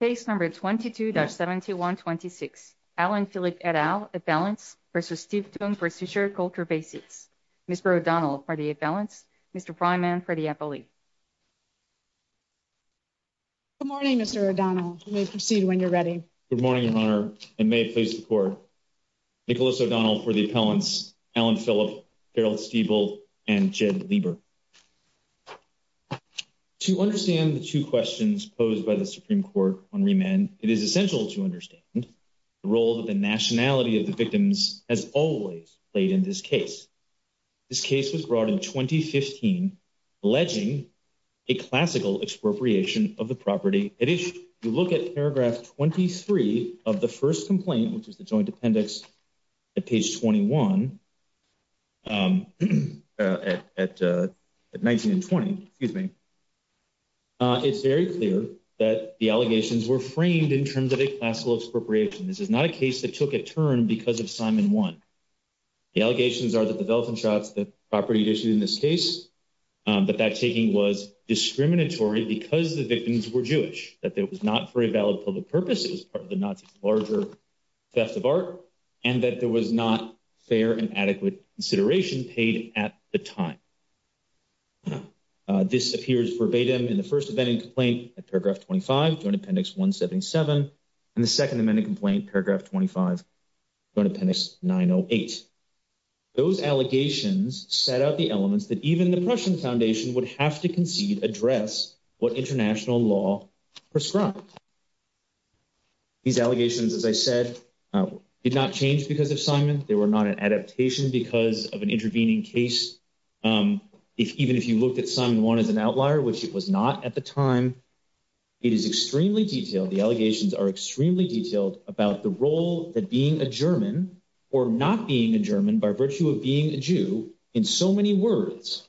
Case No. 22-7126, Allan Philipp et al. Appellants v. Stiftung Preussischer Kulturbesitz Mr. O'Donnell for the appellants, Mr. Freiman for the appellee Good morning Mr. O'Donnell, you may proceed when you're ready Good morning Your Honor, and may it please the Court Nicholas O'Donnell for the appellants, Allan Philipp, Carol Stiebel, and Jed Lieber To understand the two questions posed by the Supreme Court on remand, it is essential to understand the role that the nationality of the victims has always played in this case This case was brought in 2015 alleging a classical expropriation of the property If you look at paragraph 23 of the first complaint, which is the Joint Appendix at page 21, at 19 and 20, it's very clear that the allegations were framed in terms of a classical expropriation This is not a case that took a turn because of Simon 1 The allegations are that the velvet and shrouds, the property issued in this case, but that taking was discriminatory because the victims were Jewish That it was not for a valid public purpose, it was part of the Nazi's larger theft of art, and that there was not fair and adequate consideration paid at the time This appears verbatim in the first amending complaint at paragraph 25, Joint Appendix 177, and the second amending complaint, paragraph 25, Joint Appendix 908 Those allegations set out the elements that even the Prussian Foundation would have to concede address what international law prescribed These allegations, as I said, did not change because of Simon, they were not an adaptation because of an intervening case Even if you looked at Simon 1 as an outlier, which it was not at the time It is extremely detailed, the allegations are extremely detailed about the role that being a German, or not being a German by virtue of being a Jew, in so many words,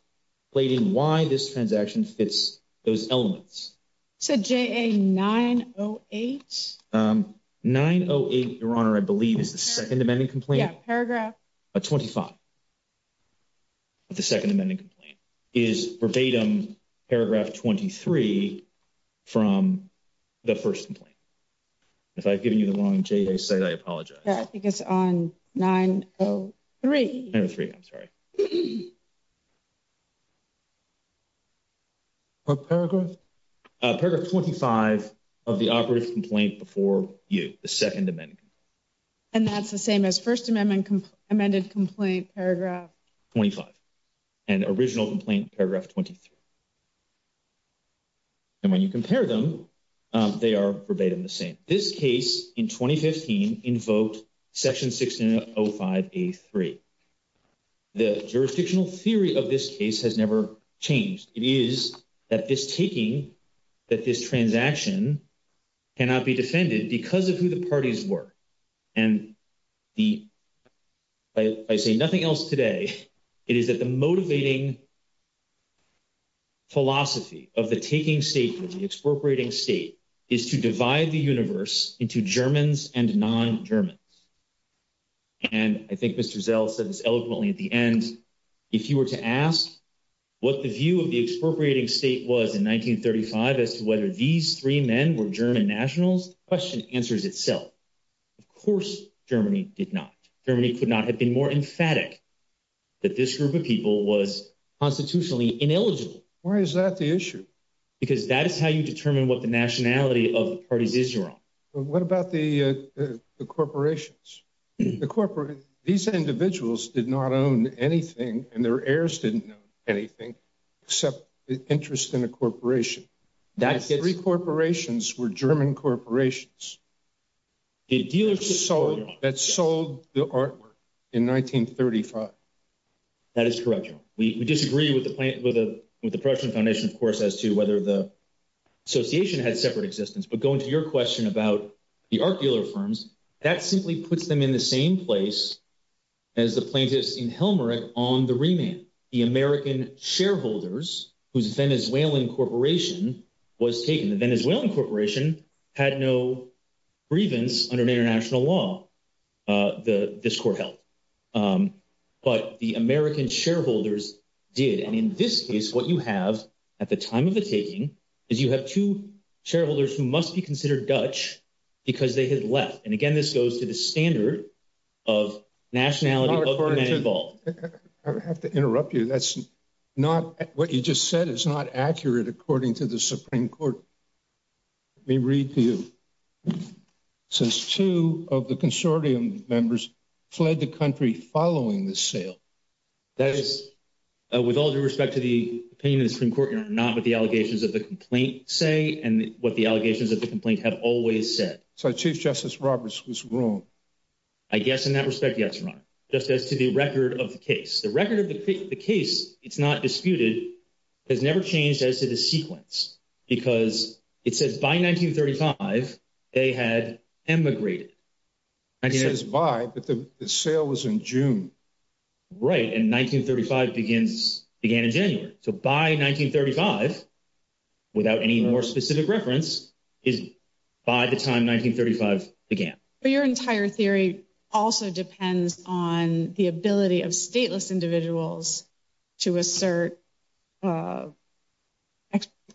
played in why this transaction fits those elements So JA 908? 908, Your Honor, I believe is the second amending complaint Yeah, paragraph At 25, the second amending complaint is verbatim paragraph 23 from the first complaint If I've given you the wrong JA site, I apologize Yeah, I think it's on 903 903, I'm sorry Paragraph? Paragraph 25 of the operative complaint before you, the second amending complaint And that's the same as first amendment, amended complaint, paragraph 25, and original complaint, paragraph 23 And when you compare them, they are verbatim the same And this case, in 2015, in vote section 1605A3 The jurisdictional theory of this case has never changed It is that this taking, that this transaction cannot be defended because of who the parties were And I say nothing else today It is that the motivating philosophy of the taking state and the expropriating state is to divide the universe into Germans and non-Germans And I think Mr. Zell said this eloquently at the end If you were to ask what the view of the expropriating state was in 1935 as to whether these three men were German nationals, the question answers itself Of course Germany did not, Germany could not have been more emphatic that this group of people was constitutionally ineligible Why is that the issue? Because that is how you determine what the nationality of the parties is your own What about the corporations? These individuals did not own anything and their heirs didn't own anything except interest in a corporation The three corporations were German corporations That sold the artwork in 1935 That is correct, John We disagree with the Prussian Foundation of course as to whether the association had separate existence But going to your question about the art dealer firms, that simply puts them in the same place as the plaintiffs in Helmholtz on the remand The American shareholders whose Venezuelan corporation was taken The Venezuelan corporation had no grievance under international law this court held But the American shareholders did And in this case what you have at the time of the taking is you have two shareholders who must be considered Dutch because they had left And again this goes to the standard of nationality of the men involved I have to interrupt you, what you just said is not accurate according to the Supreme Court Let me read to you Since two of the consortium members fled the country following the sale With all due respect to the opinion of the Supreme Court, Your Honor, not what the allegations of the complaint say and what the allegations of the complaint have always said So Chief Justice Roberts was wrong I guess in that respect, yes, Your Honor Just as to the record of the case The record of the case, it's not disputed, has never changed as to the sequence Because it says by 1935 they had emigrated It says by, but the sale was in June Right, and 1935 began in January So by 1935, without any more specific reference, is by the time 1935 began But your entire theory also depends on the ability of stateless individuals to assert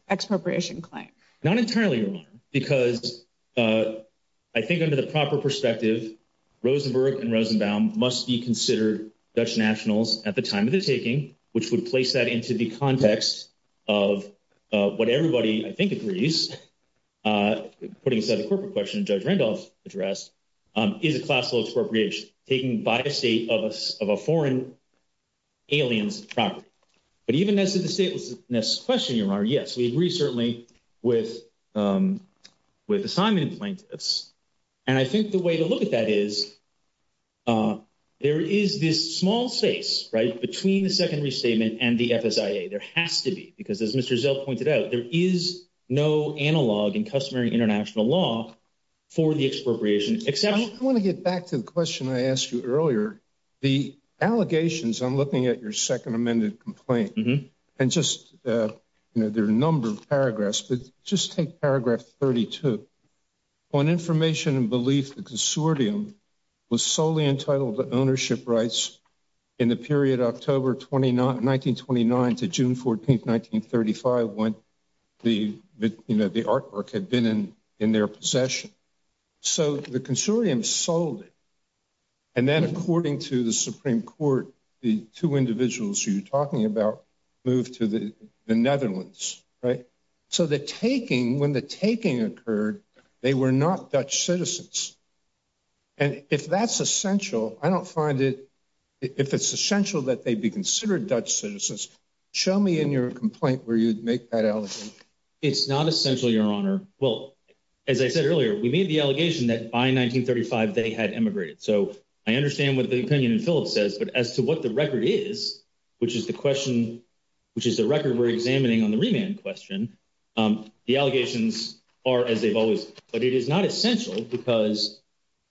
expropriation claim Not entirely, Your Honor, because I think under the proper perspective Rosenberg and Rosenbaum must be considered Dutch nationals at the time of the taking Which would place that into the context of what everybody I think agrees Putting aside the corporate question that Judge Randolph addressed Is a classical expropriation, taking by a state of a foreign alien's property But even as to the statelessness question, Your Honor, yes, we agree certainly with assignment plaintiffs And I think the way to look at that is There is this small space, right, between the secondary statement and the FSIA There has to be, because as Mr. Zell pointed out, there is no analog in customary international law For the expropriation, except I want to get back to the question I asked you earlier The allegations, I'm looking at your second amended complaint And just, you know, there are a number of paragraphs But just take paragraph 32 On information and belief, the consortium was solely entitled to ownership rights In the period October 1929 to June 14, 1935 When the artwork had been in their possession So the consortium sold it And then according to the Supreme Court, the two individuals you're talking about Moved to the Netherlands, right So the taking, when the taking occurred, they were not Dutch citizens And if that's essential, I don't find it If it's essential that they be considered Dutch citizens Show me in your complaint where you'd make that allegation It's not essential, Your Honor Well, as I said earlier, we made the allegation that by 1935 they had emigrated So I understand what the opinion in Phillips says But as to what the record is, which is the question The allegations are as they've always been But it is not essential because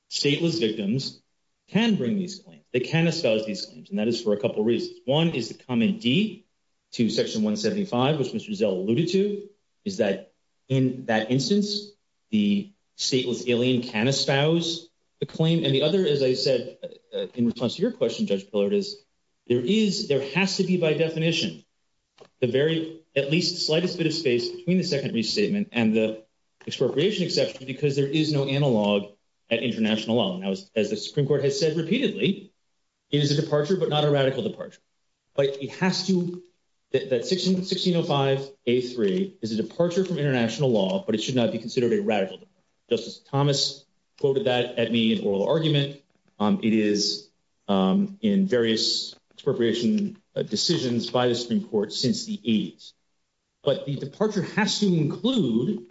stateless victims can bring these claims They can espouse these claims, and that is for a couple of reasons One is the comment D to section 175, which Mr. Zell alluded to Is that in that instance, the stateless alien can espouse the claim And the other, as I said, in response to your question, Judge Pillard Is there is, there has to be by definition The very, at least slightest bit of space between the second restatement And the expropriation exception because there is no analog at international law And as the Supreme Court has said repeatedly It is a departure but not a radical departure But it has to, that 1605A3 is a departure from international law But it should not be considered a radical departure Justice Thomas quoted that at me in oral argument It is in various expropriation decisions by the Supreme Court since the 80s But the departure has to include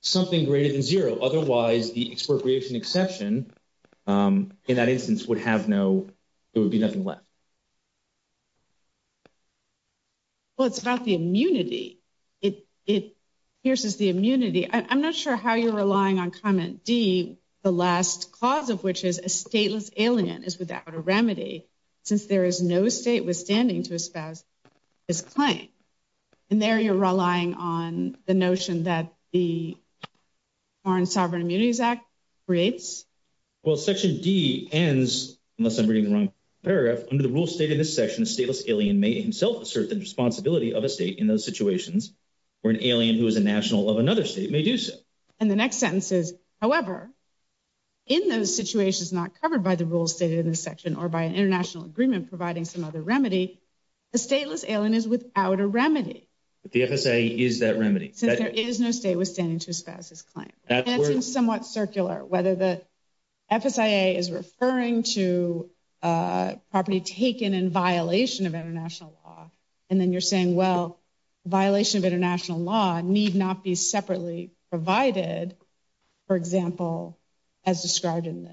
something greater than zero Otherwise the expropriation exception in that instance would have no, it would be nothing left Well, it's about the immunity, it pierces the immunity I'm not sure how you're relying on comment D The last clause of which is a stateless alien is without a remedy Since there is no state withstanding to espouse this claim And there you're relying on the notion that the Foreign Sovereign Immunities Act creates Well, section D ends, unless I'm reading the wrong paragraph Under the rule stated in this section, a stateless alien may himself assert the responsibility of a state in those situations Where an alien who is a national of another state may do so And the next sentence is, however, in those situations not covered by the rules stated in this section Or by an international agreement providing some other remedy A stateless alien is without a remedy But the FSIA is that remedy Since there is no state withstanding to espouse this claim And it's somewhat circular, whether the FSIA is referring to property taken in violation of international law And then you're saying, well, violation of international law need not be separately provided For example, as described in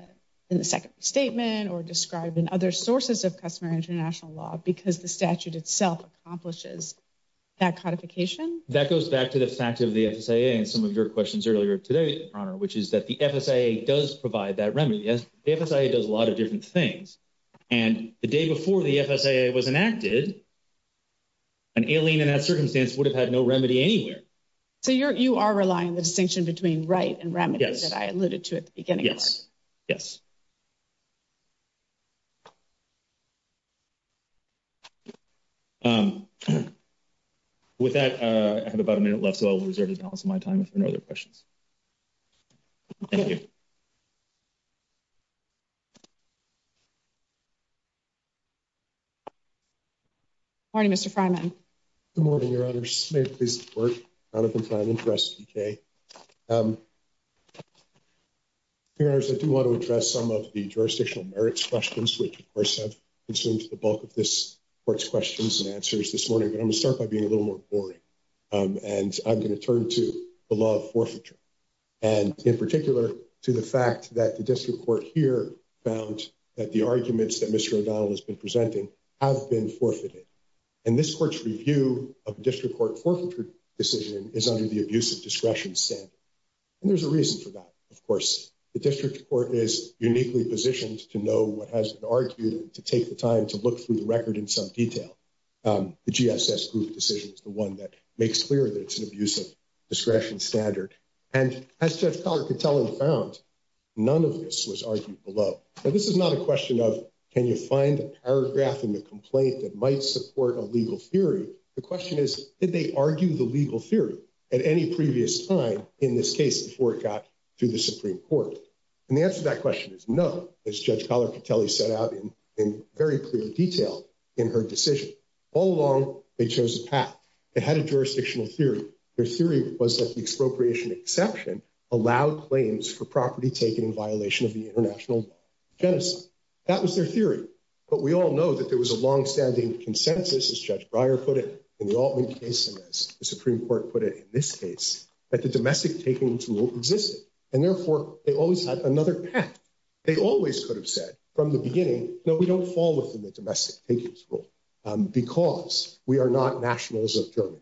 the second statement Or described in other sources of customer international law Because the statute itself accomplishes that codification That goes back to the fact of the FSIA and some of your questions earlier today, Your Honor Which is that the FSIA does provide that remedy The FSIA does a lot of different things And the day before the FSIA was enacted An alien in that circumstance would have had no remedy anywhere So you are relying on the distinction between right and remedy that I alluded to at the beginning Yes, yes With that, I have about a minute left So I will reserve the balance of my time if there are no other questions Thank you Morning, Mr. Freiman Good morning, Your Honor May it please the Court, Jonathan Freiman for SBK Your Honor, I do want to address some of the jurisdictional merits questions Which, of course, have consumed the bulk of this Court's questions and answers this morning But I'm going to start by being a little more boring And I'm going to turn to the law of forfeiture And in particular to the fact that the district court here Found that the arguments that Mr. O'Donnell has been presenting have been forfeited And this Court's review of the district court forfeiture decision is under the abusive discretion standard And there's a reason for that, of course The district court is uniquely positioned to know what has been argued And to take the time to look through the record in some detail The GSS group decision is the one that makes clear that it's an abusive discretion standard And as Judge Collar-Catelli found, none of this was argued below Now, this is not a question of, can you find a paragraph in the complaint that might support a legal theory The question is, did they argue the legal theory at any previous time in this case before it got to the Supreme Court And the answer to that question is no, as Judge Collar-Catelli set out in very clear detail in her decision All along, they chose a path They had a jurisdictional theory Their theory was that the expropriation exception allowed claims for property taken in violation of the International Law of Genocide That was their theory But we all know that there was a long-standing consensus, as Judge Breyer put it, in the Altman case And as the Supreme Court put it in this case, that the domestic taking rule existed And therefore, they always had another path They always could have said from the beginning, no, we don't fall within the domestic takings rule Because we are not nationals of Germany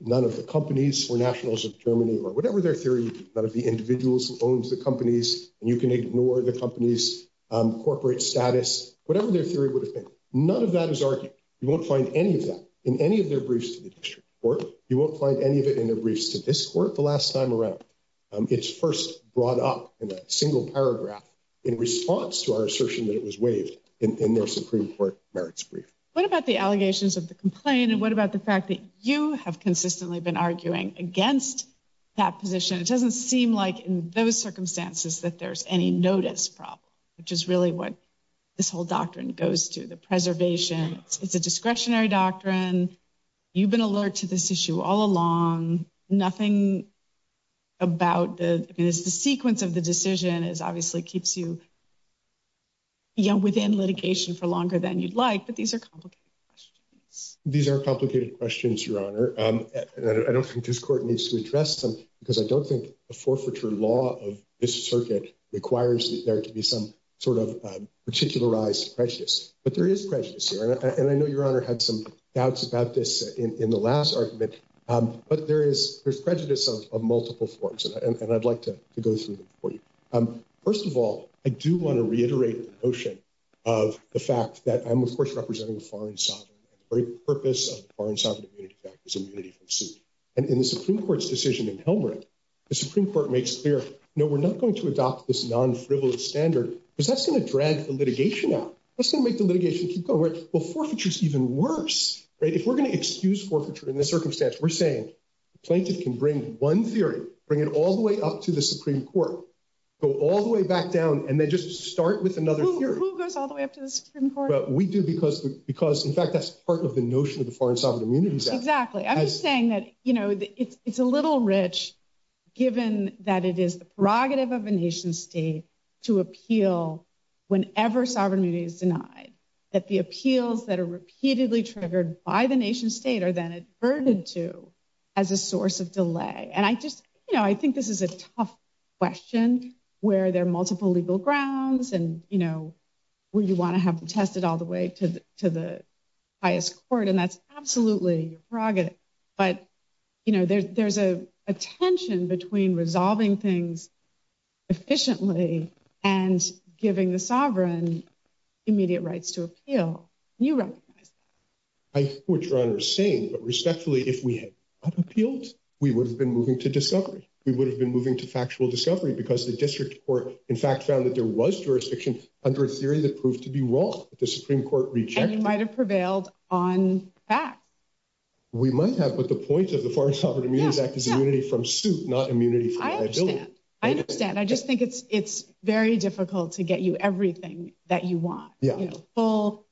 None of the companies were nationals of Germany Or whatever their theory, none of the individuals who owned the companies And you can ignore the company's corporate status Whatever their theory would have been None of that is argued You won't find any of that in any of their briefs to the district court You won't find any of it in their briefs to this court the last time around It's first brought up in a single paragraph in response to our assertion that it was waived in their Supreme Court merits brief What about the allegations of the complaint? And what about the fact that you have consistently been arguing against that position? It doesn't seem like in those circumstances that there's any notice problem Which is really what this whole doctrine goes to The preservation, it's a discretionary doctrine You've been alert to this issue all along Nothing about the sequence of the decision It obviously keeps you within litigation for longer than you'd like But these are complicated questions These are complicated questions, Your Honor I don't think this court needs to address them Because I don't think the forfeiture law of this circuit requires there to be some sort of particularized prejudice But there is prejudice here And I know Your Honor had some doubts about this in the last argument But there is prejudice of multiple forms And I'd like to go through them for you First of all, I do want to reiterate the notion of the fact that I'm, of course, representing a foreign sovereign The very purpose of the Foreign Sovereign Immunity Act is immunity from suit And in the Supreme Court's decision in Helmuth, the Supreme Court makes clear No, we're not going to adopt this non-frivolous standard Because that's going to drag the litigation out That's going to make the litigation keep going Well, forfeiture is even worse If we're going to excuse forfeiture in this circumstance We're saying the plaintiff can bring one theory Bring it all the way up to the Supreme Court Go all the way back down and then just start with another theory Who goes all the way up to the Supreme Court? We do because, in fact, that's part of the notion of the Foreign Sovereign Immunity Act Exactly. I'm just saying that, you know, it's a little rich Given that it is the prerogative of a nation state to appeal whenever sovereign immunity is denied That the appeals that are repeatedly triggered by the nation state are then adverted to as a source of delay And I just, you know, I think this is a tough question Where there are multiple legal grounds And, you know, where you want to have them tested all the way to the highest court And that's absolutely a prerogative But, you know, there's a tension between resolving things efficiently And giving the sovereign immediate rights to appeal And you recognize that I support what Your Honor is saying But respectfully, if we had not appealed We would have been moving to discovery We would have been moving to factual discovery Because the district court, in fact, found that there was jurisdiction Under a theory that proved to be wrong That the Supreme Court rejected And you might have prevailed on facts We might have, but the point of the Foreign Sovereign Immunity Act Is immunity from suit, not immunity from liability I understand, I understand I just think it's very difficult to get you everything that you want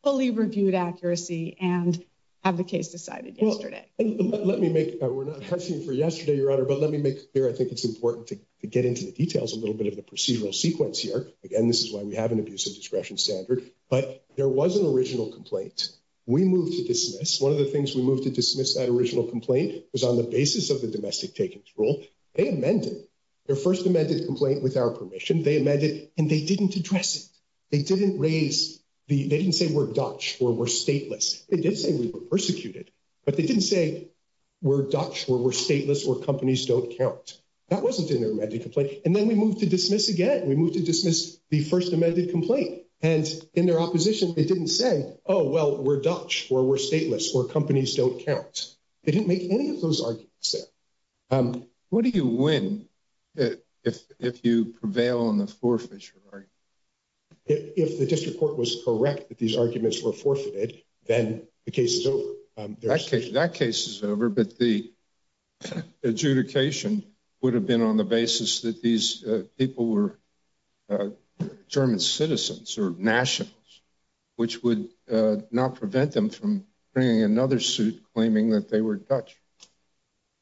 Fully reviewed accuracy and have the case decided yesterday Let me make, we're not hesitant for yesterday, Your Honor But let me make clear, I think it's important to get into the details A little bit of the procedural sequence here Again, this is why we have an abuse of discretion standard But there was an original complaint We moved to dismiss One of the things we moved to dismiss that original complaint Was on the basis of the domestic takings rule They amended their first amended complaint with our permission They amended and they didn't address it They didn't raise, they didn't say we're Dutch or we're stateless They did say we were persecuted But they didn't say we're Dutch or we're stateless Or companies don't count That wasn't in their amended complaint And then we moved to dismiss again We moved to dismiss the first amended complaint And in their opposition, they didn't say Oh, well, we're Dutch or we're stateless Or companies don't count They didn't make any of those arguments there What do you win if you prevail on the forefisher argument? If the district court was correct that these arguments were forfeited Then the case is over That case is over But the adjudication would have been on the basis That these people were German citizens or nationals Which would not prevent them from bringing another suit Claiming that they were Dutch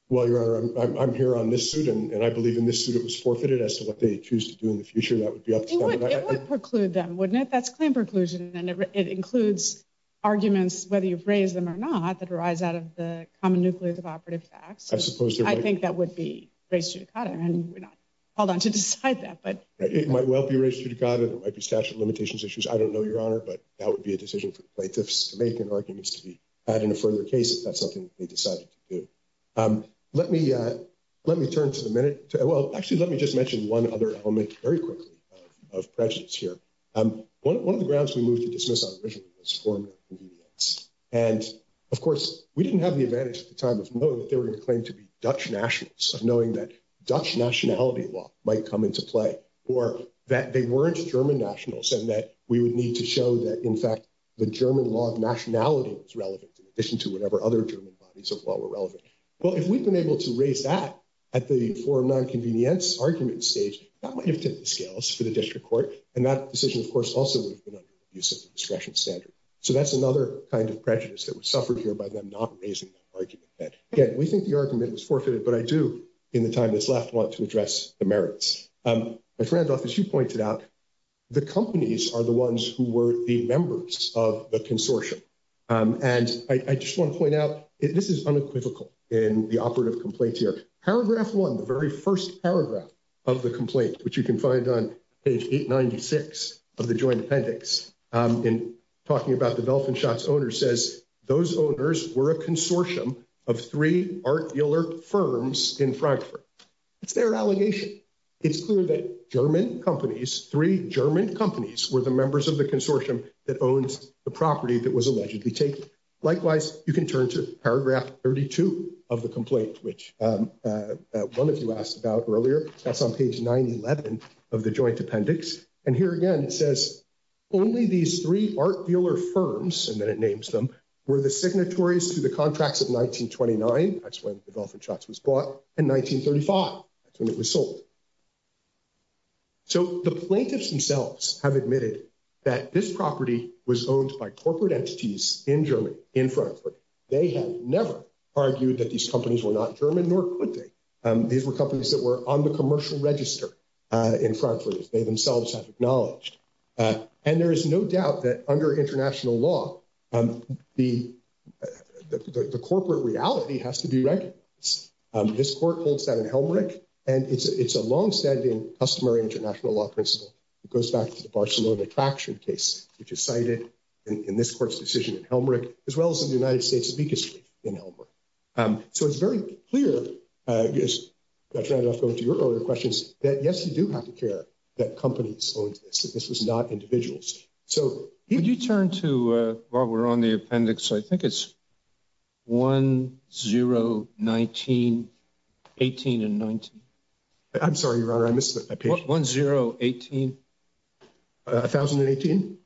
Well, Your Honor, I'm here on this suit And I believe in this suit it was forfeited As to what they choose to do in the future That would be up to them It would preclude them, wouldn't it? That's claim preclusion And it includes arguments Whether you've raised them or not That arise out of the common nucleus of operative facts I think that would be res judicata And we're not called on to decide that It might well be res judicata It might be statute of limitations issues I don't know, Your Honor But that would be a decision for plaintiffs to make And arguments to be had in a further case If that's something they decided to do Let me turn to the minute Well, actually, let me just mention one other element Very quickly of prejudice here One of the grounds we moved to dismiss our original case Formed convenience And, of course, we didn't have the advantage at the time Of knowing that they were going to claim to be Dutch nationals Of knowing that Dutch nationality law might come into play Or that they weren't German nationals And that we would need to show that, in fact The German law of nationality was relevant In addition to whatever other German bodies of law were relevant Well, if we've been able to raise that At the forum non-convenience argument stage That might have tipped the scales for the district court And that decision, of course, also would have been Under the use of the discretion standard So that's another kind of prejudice that was suffered here By them not raising that argument Again, we think the argument was forfeited But I do, in the time that's left, want to address the merits My friend, as you pointed out The companies are the ones who were the members Of the consortium And I just want to point out This is unequivocal in the operative complaints here Paragraph 1, the very first paragraph of the complaint Which you can find on page 896 of the joint appendix In talking about the Delfinschatz owners says Those owners were a consortium Of three art dealer firms in Frankfurt It's their allegation It's clear that German companies Three German companies were the members of the consortium That owned the property that was allegedly taken Likewise, you can turn to paragraph 32 of the complaint Which one of you asked about earlier That's on page 911 of the joint appendix And here again it says Only these three art dealer firms And then it names them Were the signatories to the contracts of 1929 That's when the Delfinschatz was bought And 1935, that's when it was sold So the plaintiffs themselves have admitted That this property was owned by corporate entities In Germany, in Frankfurt They have never argued that these companies Were not German, nor could they These were companies that were on the commercial register In Frankfurt, as they themselves have acknowledged And there is no doubt that under international law The corporate reality has to be recognized This court holds that in Helmreich And it's a long-standing customary international law principle It goes back to the Barcelona detraction case Which is cited in this court's decision in Helmreich As well as in the United States' biggest case in Helmreich So it's very clear I tried to go to your earlier questions That yes, you do have to care That companies owned this, that this was not individuals Could you turn to, while we're on the appendix I think it's 1019, 18 and 19 I'm sorry, your honor, I missed that 1018 1018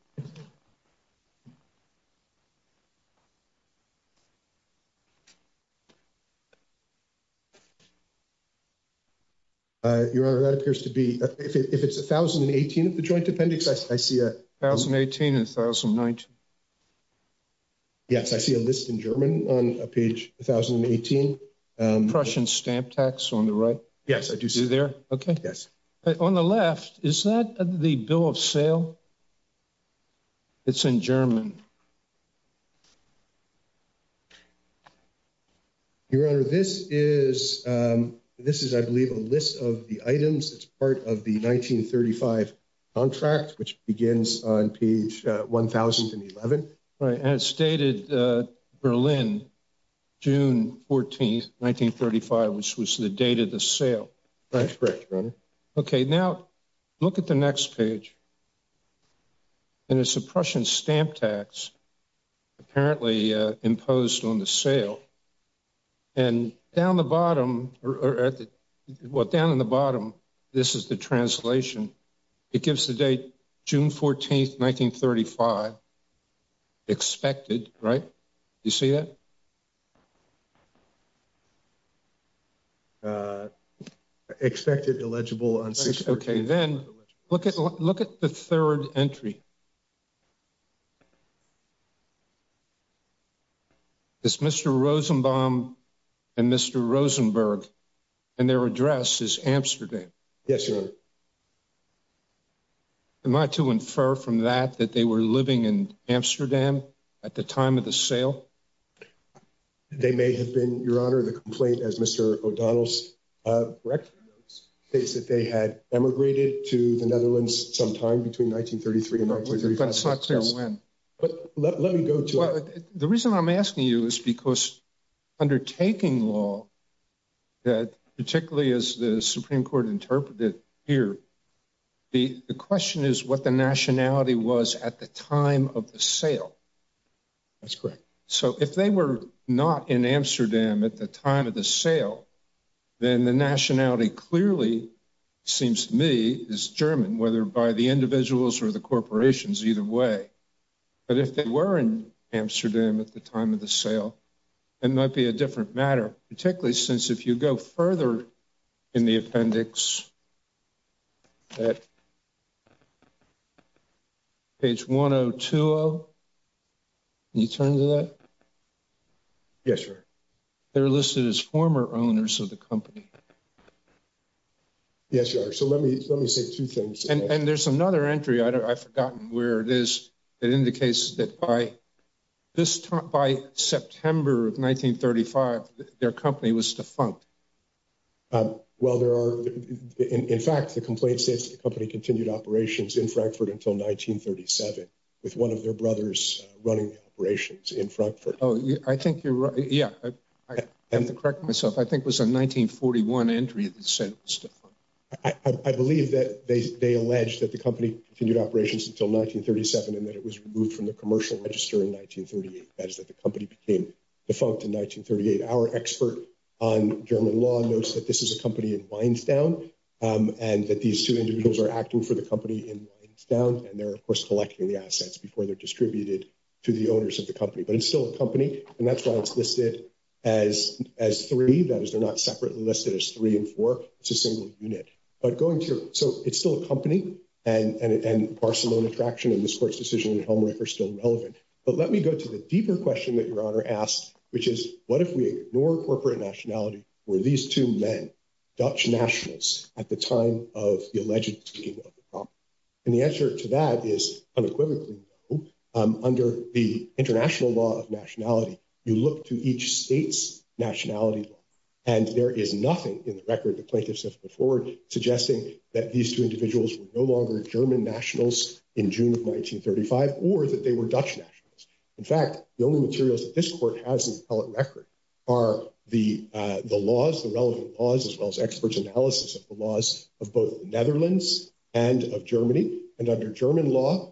Your honor, that appears to be If it's 1018 of the joint appendix I see a 1018 and 1019 Yes, I see a list in German on page 1018 Prussian stamp tax on the right Yes, I do see Is it there? Okay Yes On the left, is that the bill of sale? It's in German Your honor, this is This is, I believe, a list of the items It's part of the 1935 contract Which begins on page 1011 Right, and it's dated Berlin June 14, 1935 Which was the date of the sale That's correct, your honor Okay, now, look at the next page And it's a Prussian stamp tax Apparently imposed on the sale And down the bottom Well, down in the bottom This is the translation It gives the date, June 14, 1935 Expected, right? You see that? Expected, illegible, on June 14 Okay, then Look at the third entry It's Mr. Rosenbaum And Mr. Rosenberg And their address is Amsterdam Yes, your honor Am I to infer from that That they were living in Amsterdam At the time of the sale? They may have been, your honor I don't remember the complaint As Mr. O'Donnell's, correct? It states that they had emigrated To the Netherlands sometime Between 1933 and 1935 But it's not clear when But let me go to it The reason I'm asking you Is because undertaking law That, particularly as the Supreme Court Interpreted here The question is what the nationality was At the time of the sale That's correct So if they were not in Amsterdam At the time of the sale Then the nationality clearly Seems to me, is German Whether by the individuals Or the corporations, either way But if they were in Amsterdam At the time of the sale It might be a different matter Particularly since if you go further In the appendix Page 1020 Can you turn to that? Yes, your honor They're listed as former owners Of the company Yes, your honor So let me say two things And there's another entry I've forgotten where it is That indicates that by By September of 1935 Their company was defunct Well, there are In fact, the complaint states The company continued operations In Frankfurt until 1937 With one of their brothers Running the operations in Frankfurt I think you're right Yeah, I have to correct myself I think it was a 1941 entry That said it was defunct I believe that they allege That the company continued operations Until 1937 And that it was removed From the commercial register In 1938 That is that the company Became defunct in 1938 Our expert on German law Notes that this is a company In Weinstown And that these two individuals Are acting for the company In Weinstown And they're, of course Collecting the assets Before they're distributed To the owners of the company But it's still a company And that's why it's listed As three That is, they're not Separately listed as three and four It's a single unit But going to So it's still a company And Barcelona Traction And this court's decision On Helmreich are still relevant But let me go to the deeper question That your honor asked Which is What if we ignore Corporate nationality Were these two men Dutch nationals At the time of the alleged Taking over the property And the answer to that Is unequivocally no Under the international law Of nationality You look to each state's Nationality law And there is nothing In the record the plaintiffs Have put forward Suggesting That these two individuals Were no longer German nationals In June of 1935 Or that they were Dutch nationals In fact The only materials that this court Has in the appellate record Are the laws The relevant laws As well as expert analysis Of the laws Of both the Netherlands And of Germany And under German law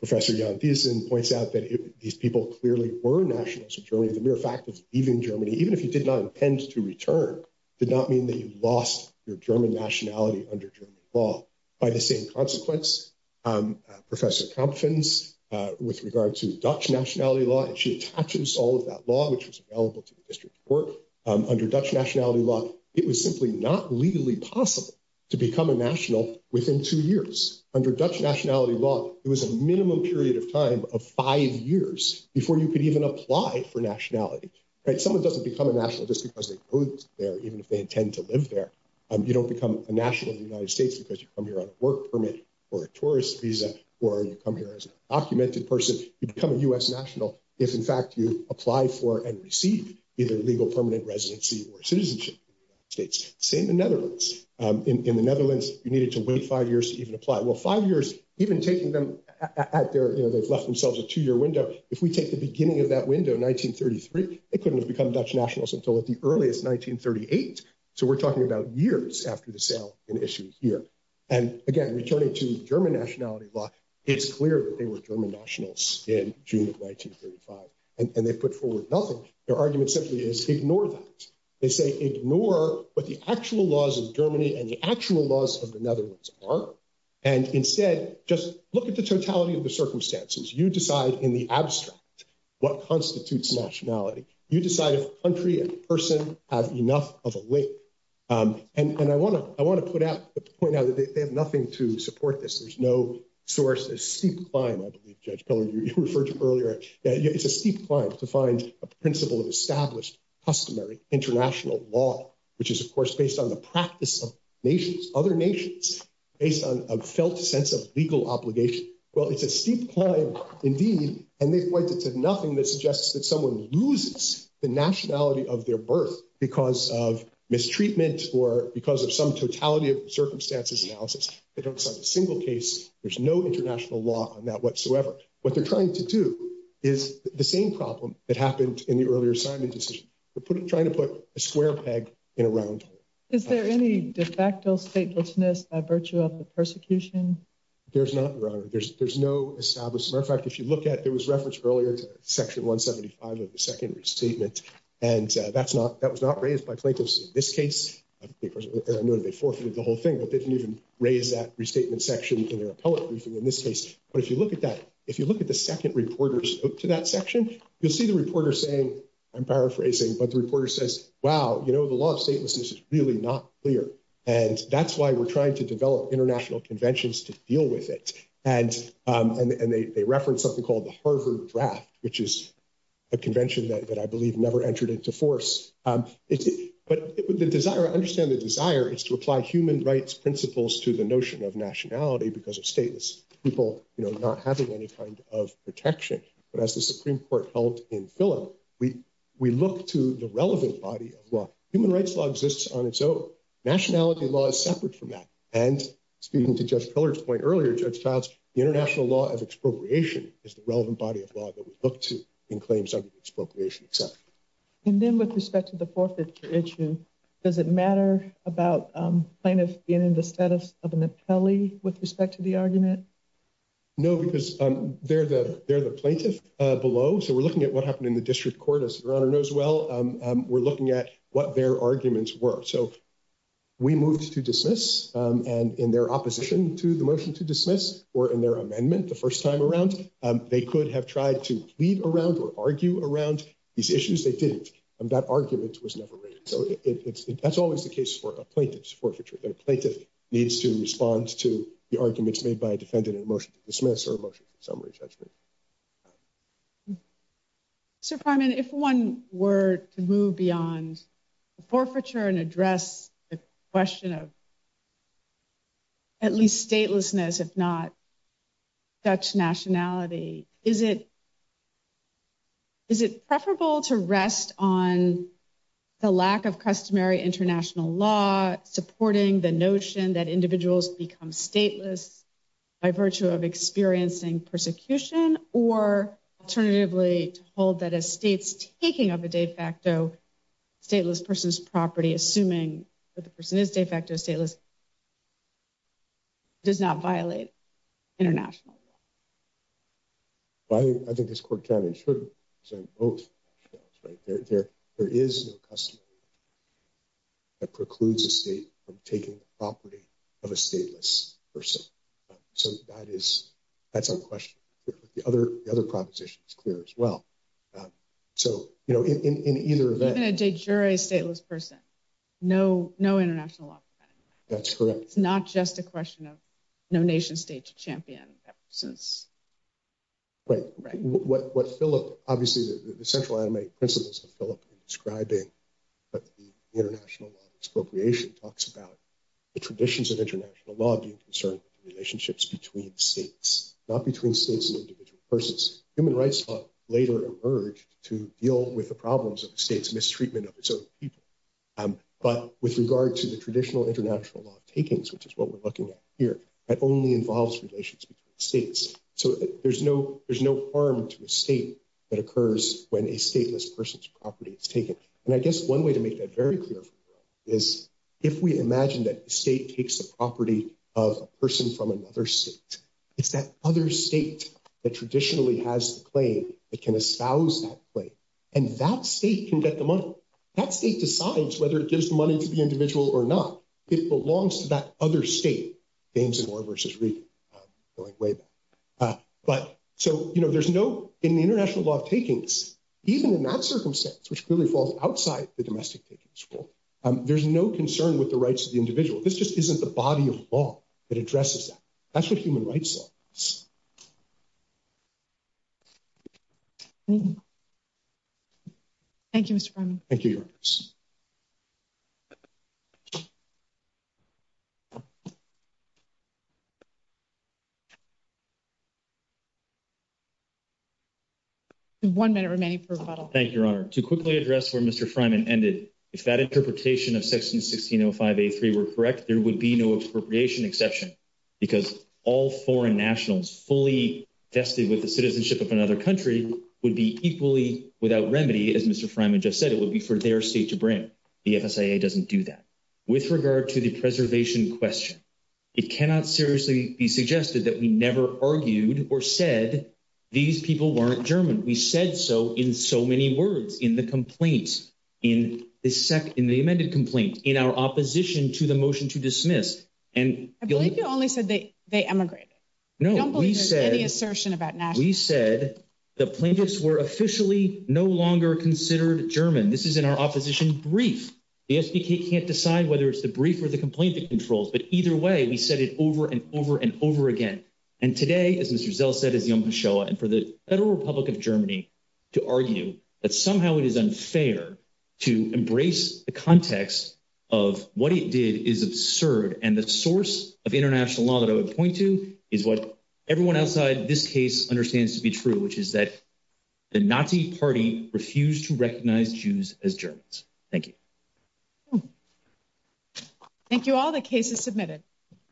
Professor Jan Thiessen Points out that These people clearly Were nationals of Germany The mere fact of Leaving Germany Even if you did not Intend to return Did not mean that you lost Your German nationality Under German law By the same consequence Professor Kampfens With regard to And she attaches All of that law Which was available To the district court Under Dutch nationality law It was simply Not legally possible To become a national Within two years Under Dutch nationality law It was a minimum period of time Of five years Before you could even apply For nationality Right, someone doesn't Become a national Just because they Go there Even if they intend to live there You don't become a national In the United States Because you come here On a work permit Or a tourist visa Or you come here As an documented person You become a U.S. national If in fact you Apply for and receive Either legal permanent residency Or citizenship In the United States Same in the Netherlands In the Netherlands You needed to wait Five years to even apply Well five years Even taking them At their They've left themselves A two year window If we take the beginning Of that window In 1933 They couldn't have become Dutch nationals Until at the earliest 1938 So we're talking about Years after the sale In issue here And again Returning to German nationality law It's clear that they were German nationals In June of 1935 And they put forward nothing Their argument simply is Ignore that They say ignore What the actual laws Of Germany And the actual laws Of the Netherlands Are And instead Just look at the totality Of the circumstances You decide in the abstract What constitutes nationality You decide if country And person Have enough of a link And I want to I want to put out The point now That they have nothing To support this There's no source A steep climb I believe Judge Pillard You referred to earlier It's a steep climb To find a principle Of established Customary International law Which is of course Based on the practice Of nations Other nations Based on a Felt sense of Legal obligation Well it's a steep Climb Indeed And they pointed to Nothing that suggests That someone loses The nationality Of their birth Because of Mistreatment Or because of Some totality Of circumstances Analysis They don't Sign a single case There's no International law On that whatsoever What they're trying To do Is the same problem That happened In the earlier Assignment decision Trying to put A square peg In a round hole Is there any De facto statelessness By virtue of The persecution There's not Your honor There's no Establishment As a matter of fact If you look at There was reference Earlier to section 175 Of the second Restatement And that's not That was not Raised by plaintiffs In this case As I noted They forfeited The whole thing But they didn't Even raise that So I'm paraphrasing But the reporter Says wow You know the law Of statelessness Is really not clear And that's why We're trying to Develop international Conventions to deal With it And they reference Something called The Harvard draft Which is a convention That I believe Never entered Into force But the Desire I understand The desire Is to apply Human rights Principles to The notion of Nationality Because of Stateless people You know Not having any Kind of Protection But as the Supreme court Held in Philip We look to The relevant Body of law Human rights Law exists On its own Nationality Law is Separate from That and Speaking to Judge Pillard's Point earlier Judge Childs The international Law of expropriation Is the relevant Body of law That we look To in Claims under The Disciplinary Act And Then with Respect to The Forfeiture Issue Does it Matter Being in The Status Of an Appellee With respect To the Argument No Because They're The plaintiff Below so We're Looking at What happened In the District And They Could Have Tried To Argue Around These Issues They Didn't That Argument Was Never Made So That's Always The Case For A Plaintiff To Respond To The Arguments And Then With Respect To The Forfeiture Issue Is it Preferable To Rest On The International Law Supporting The Notion That Individuals Become Stateless By Virtue Of The Law Of Expropriation Right What Philip Obviously The Central Animated Principles Of Philip Describing The International Law Of Expropriation Talks About The Traditions Of International Law Not Between States And Individual Persons Human Rights Later Emerged To Deal With The Problems Of The States But With Regards To The Traditional Law Of Taking That Only Involves Relations Between States So There's No Harm To A State That Occurs When A Stateless Person's Property Is Taken And I Guess One Way To Make That Very Clear Is If We Imagine That A State Takes The Property Of A Person From Another State It's That Other State That Traditionally Has The Claim That Can Espouse That Claim And That State Can Be Taken That State Can Be Taken From Another State And That State Can Be Taken From Another State Another State And That State Can Be Taken From Another State And That State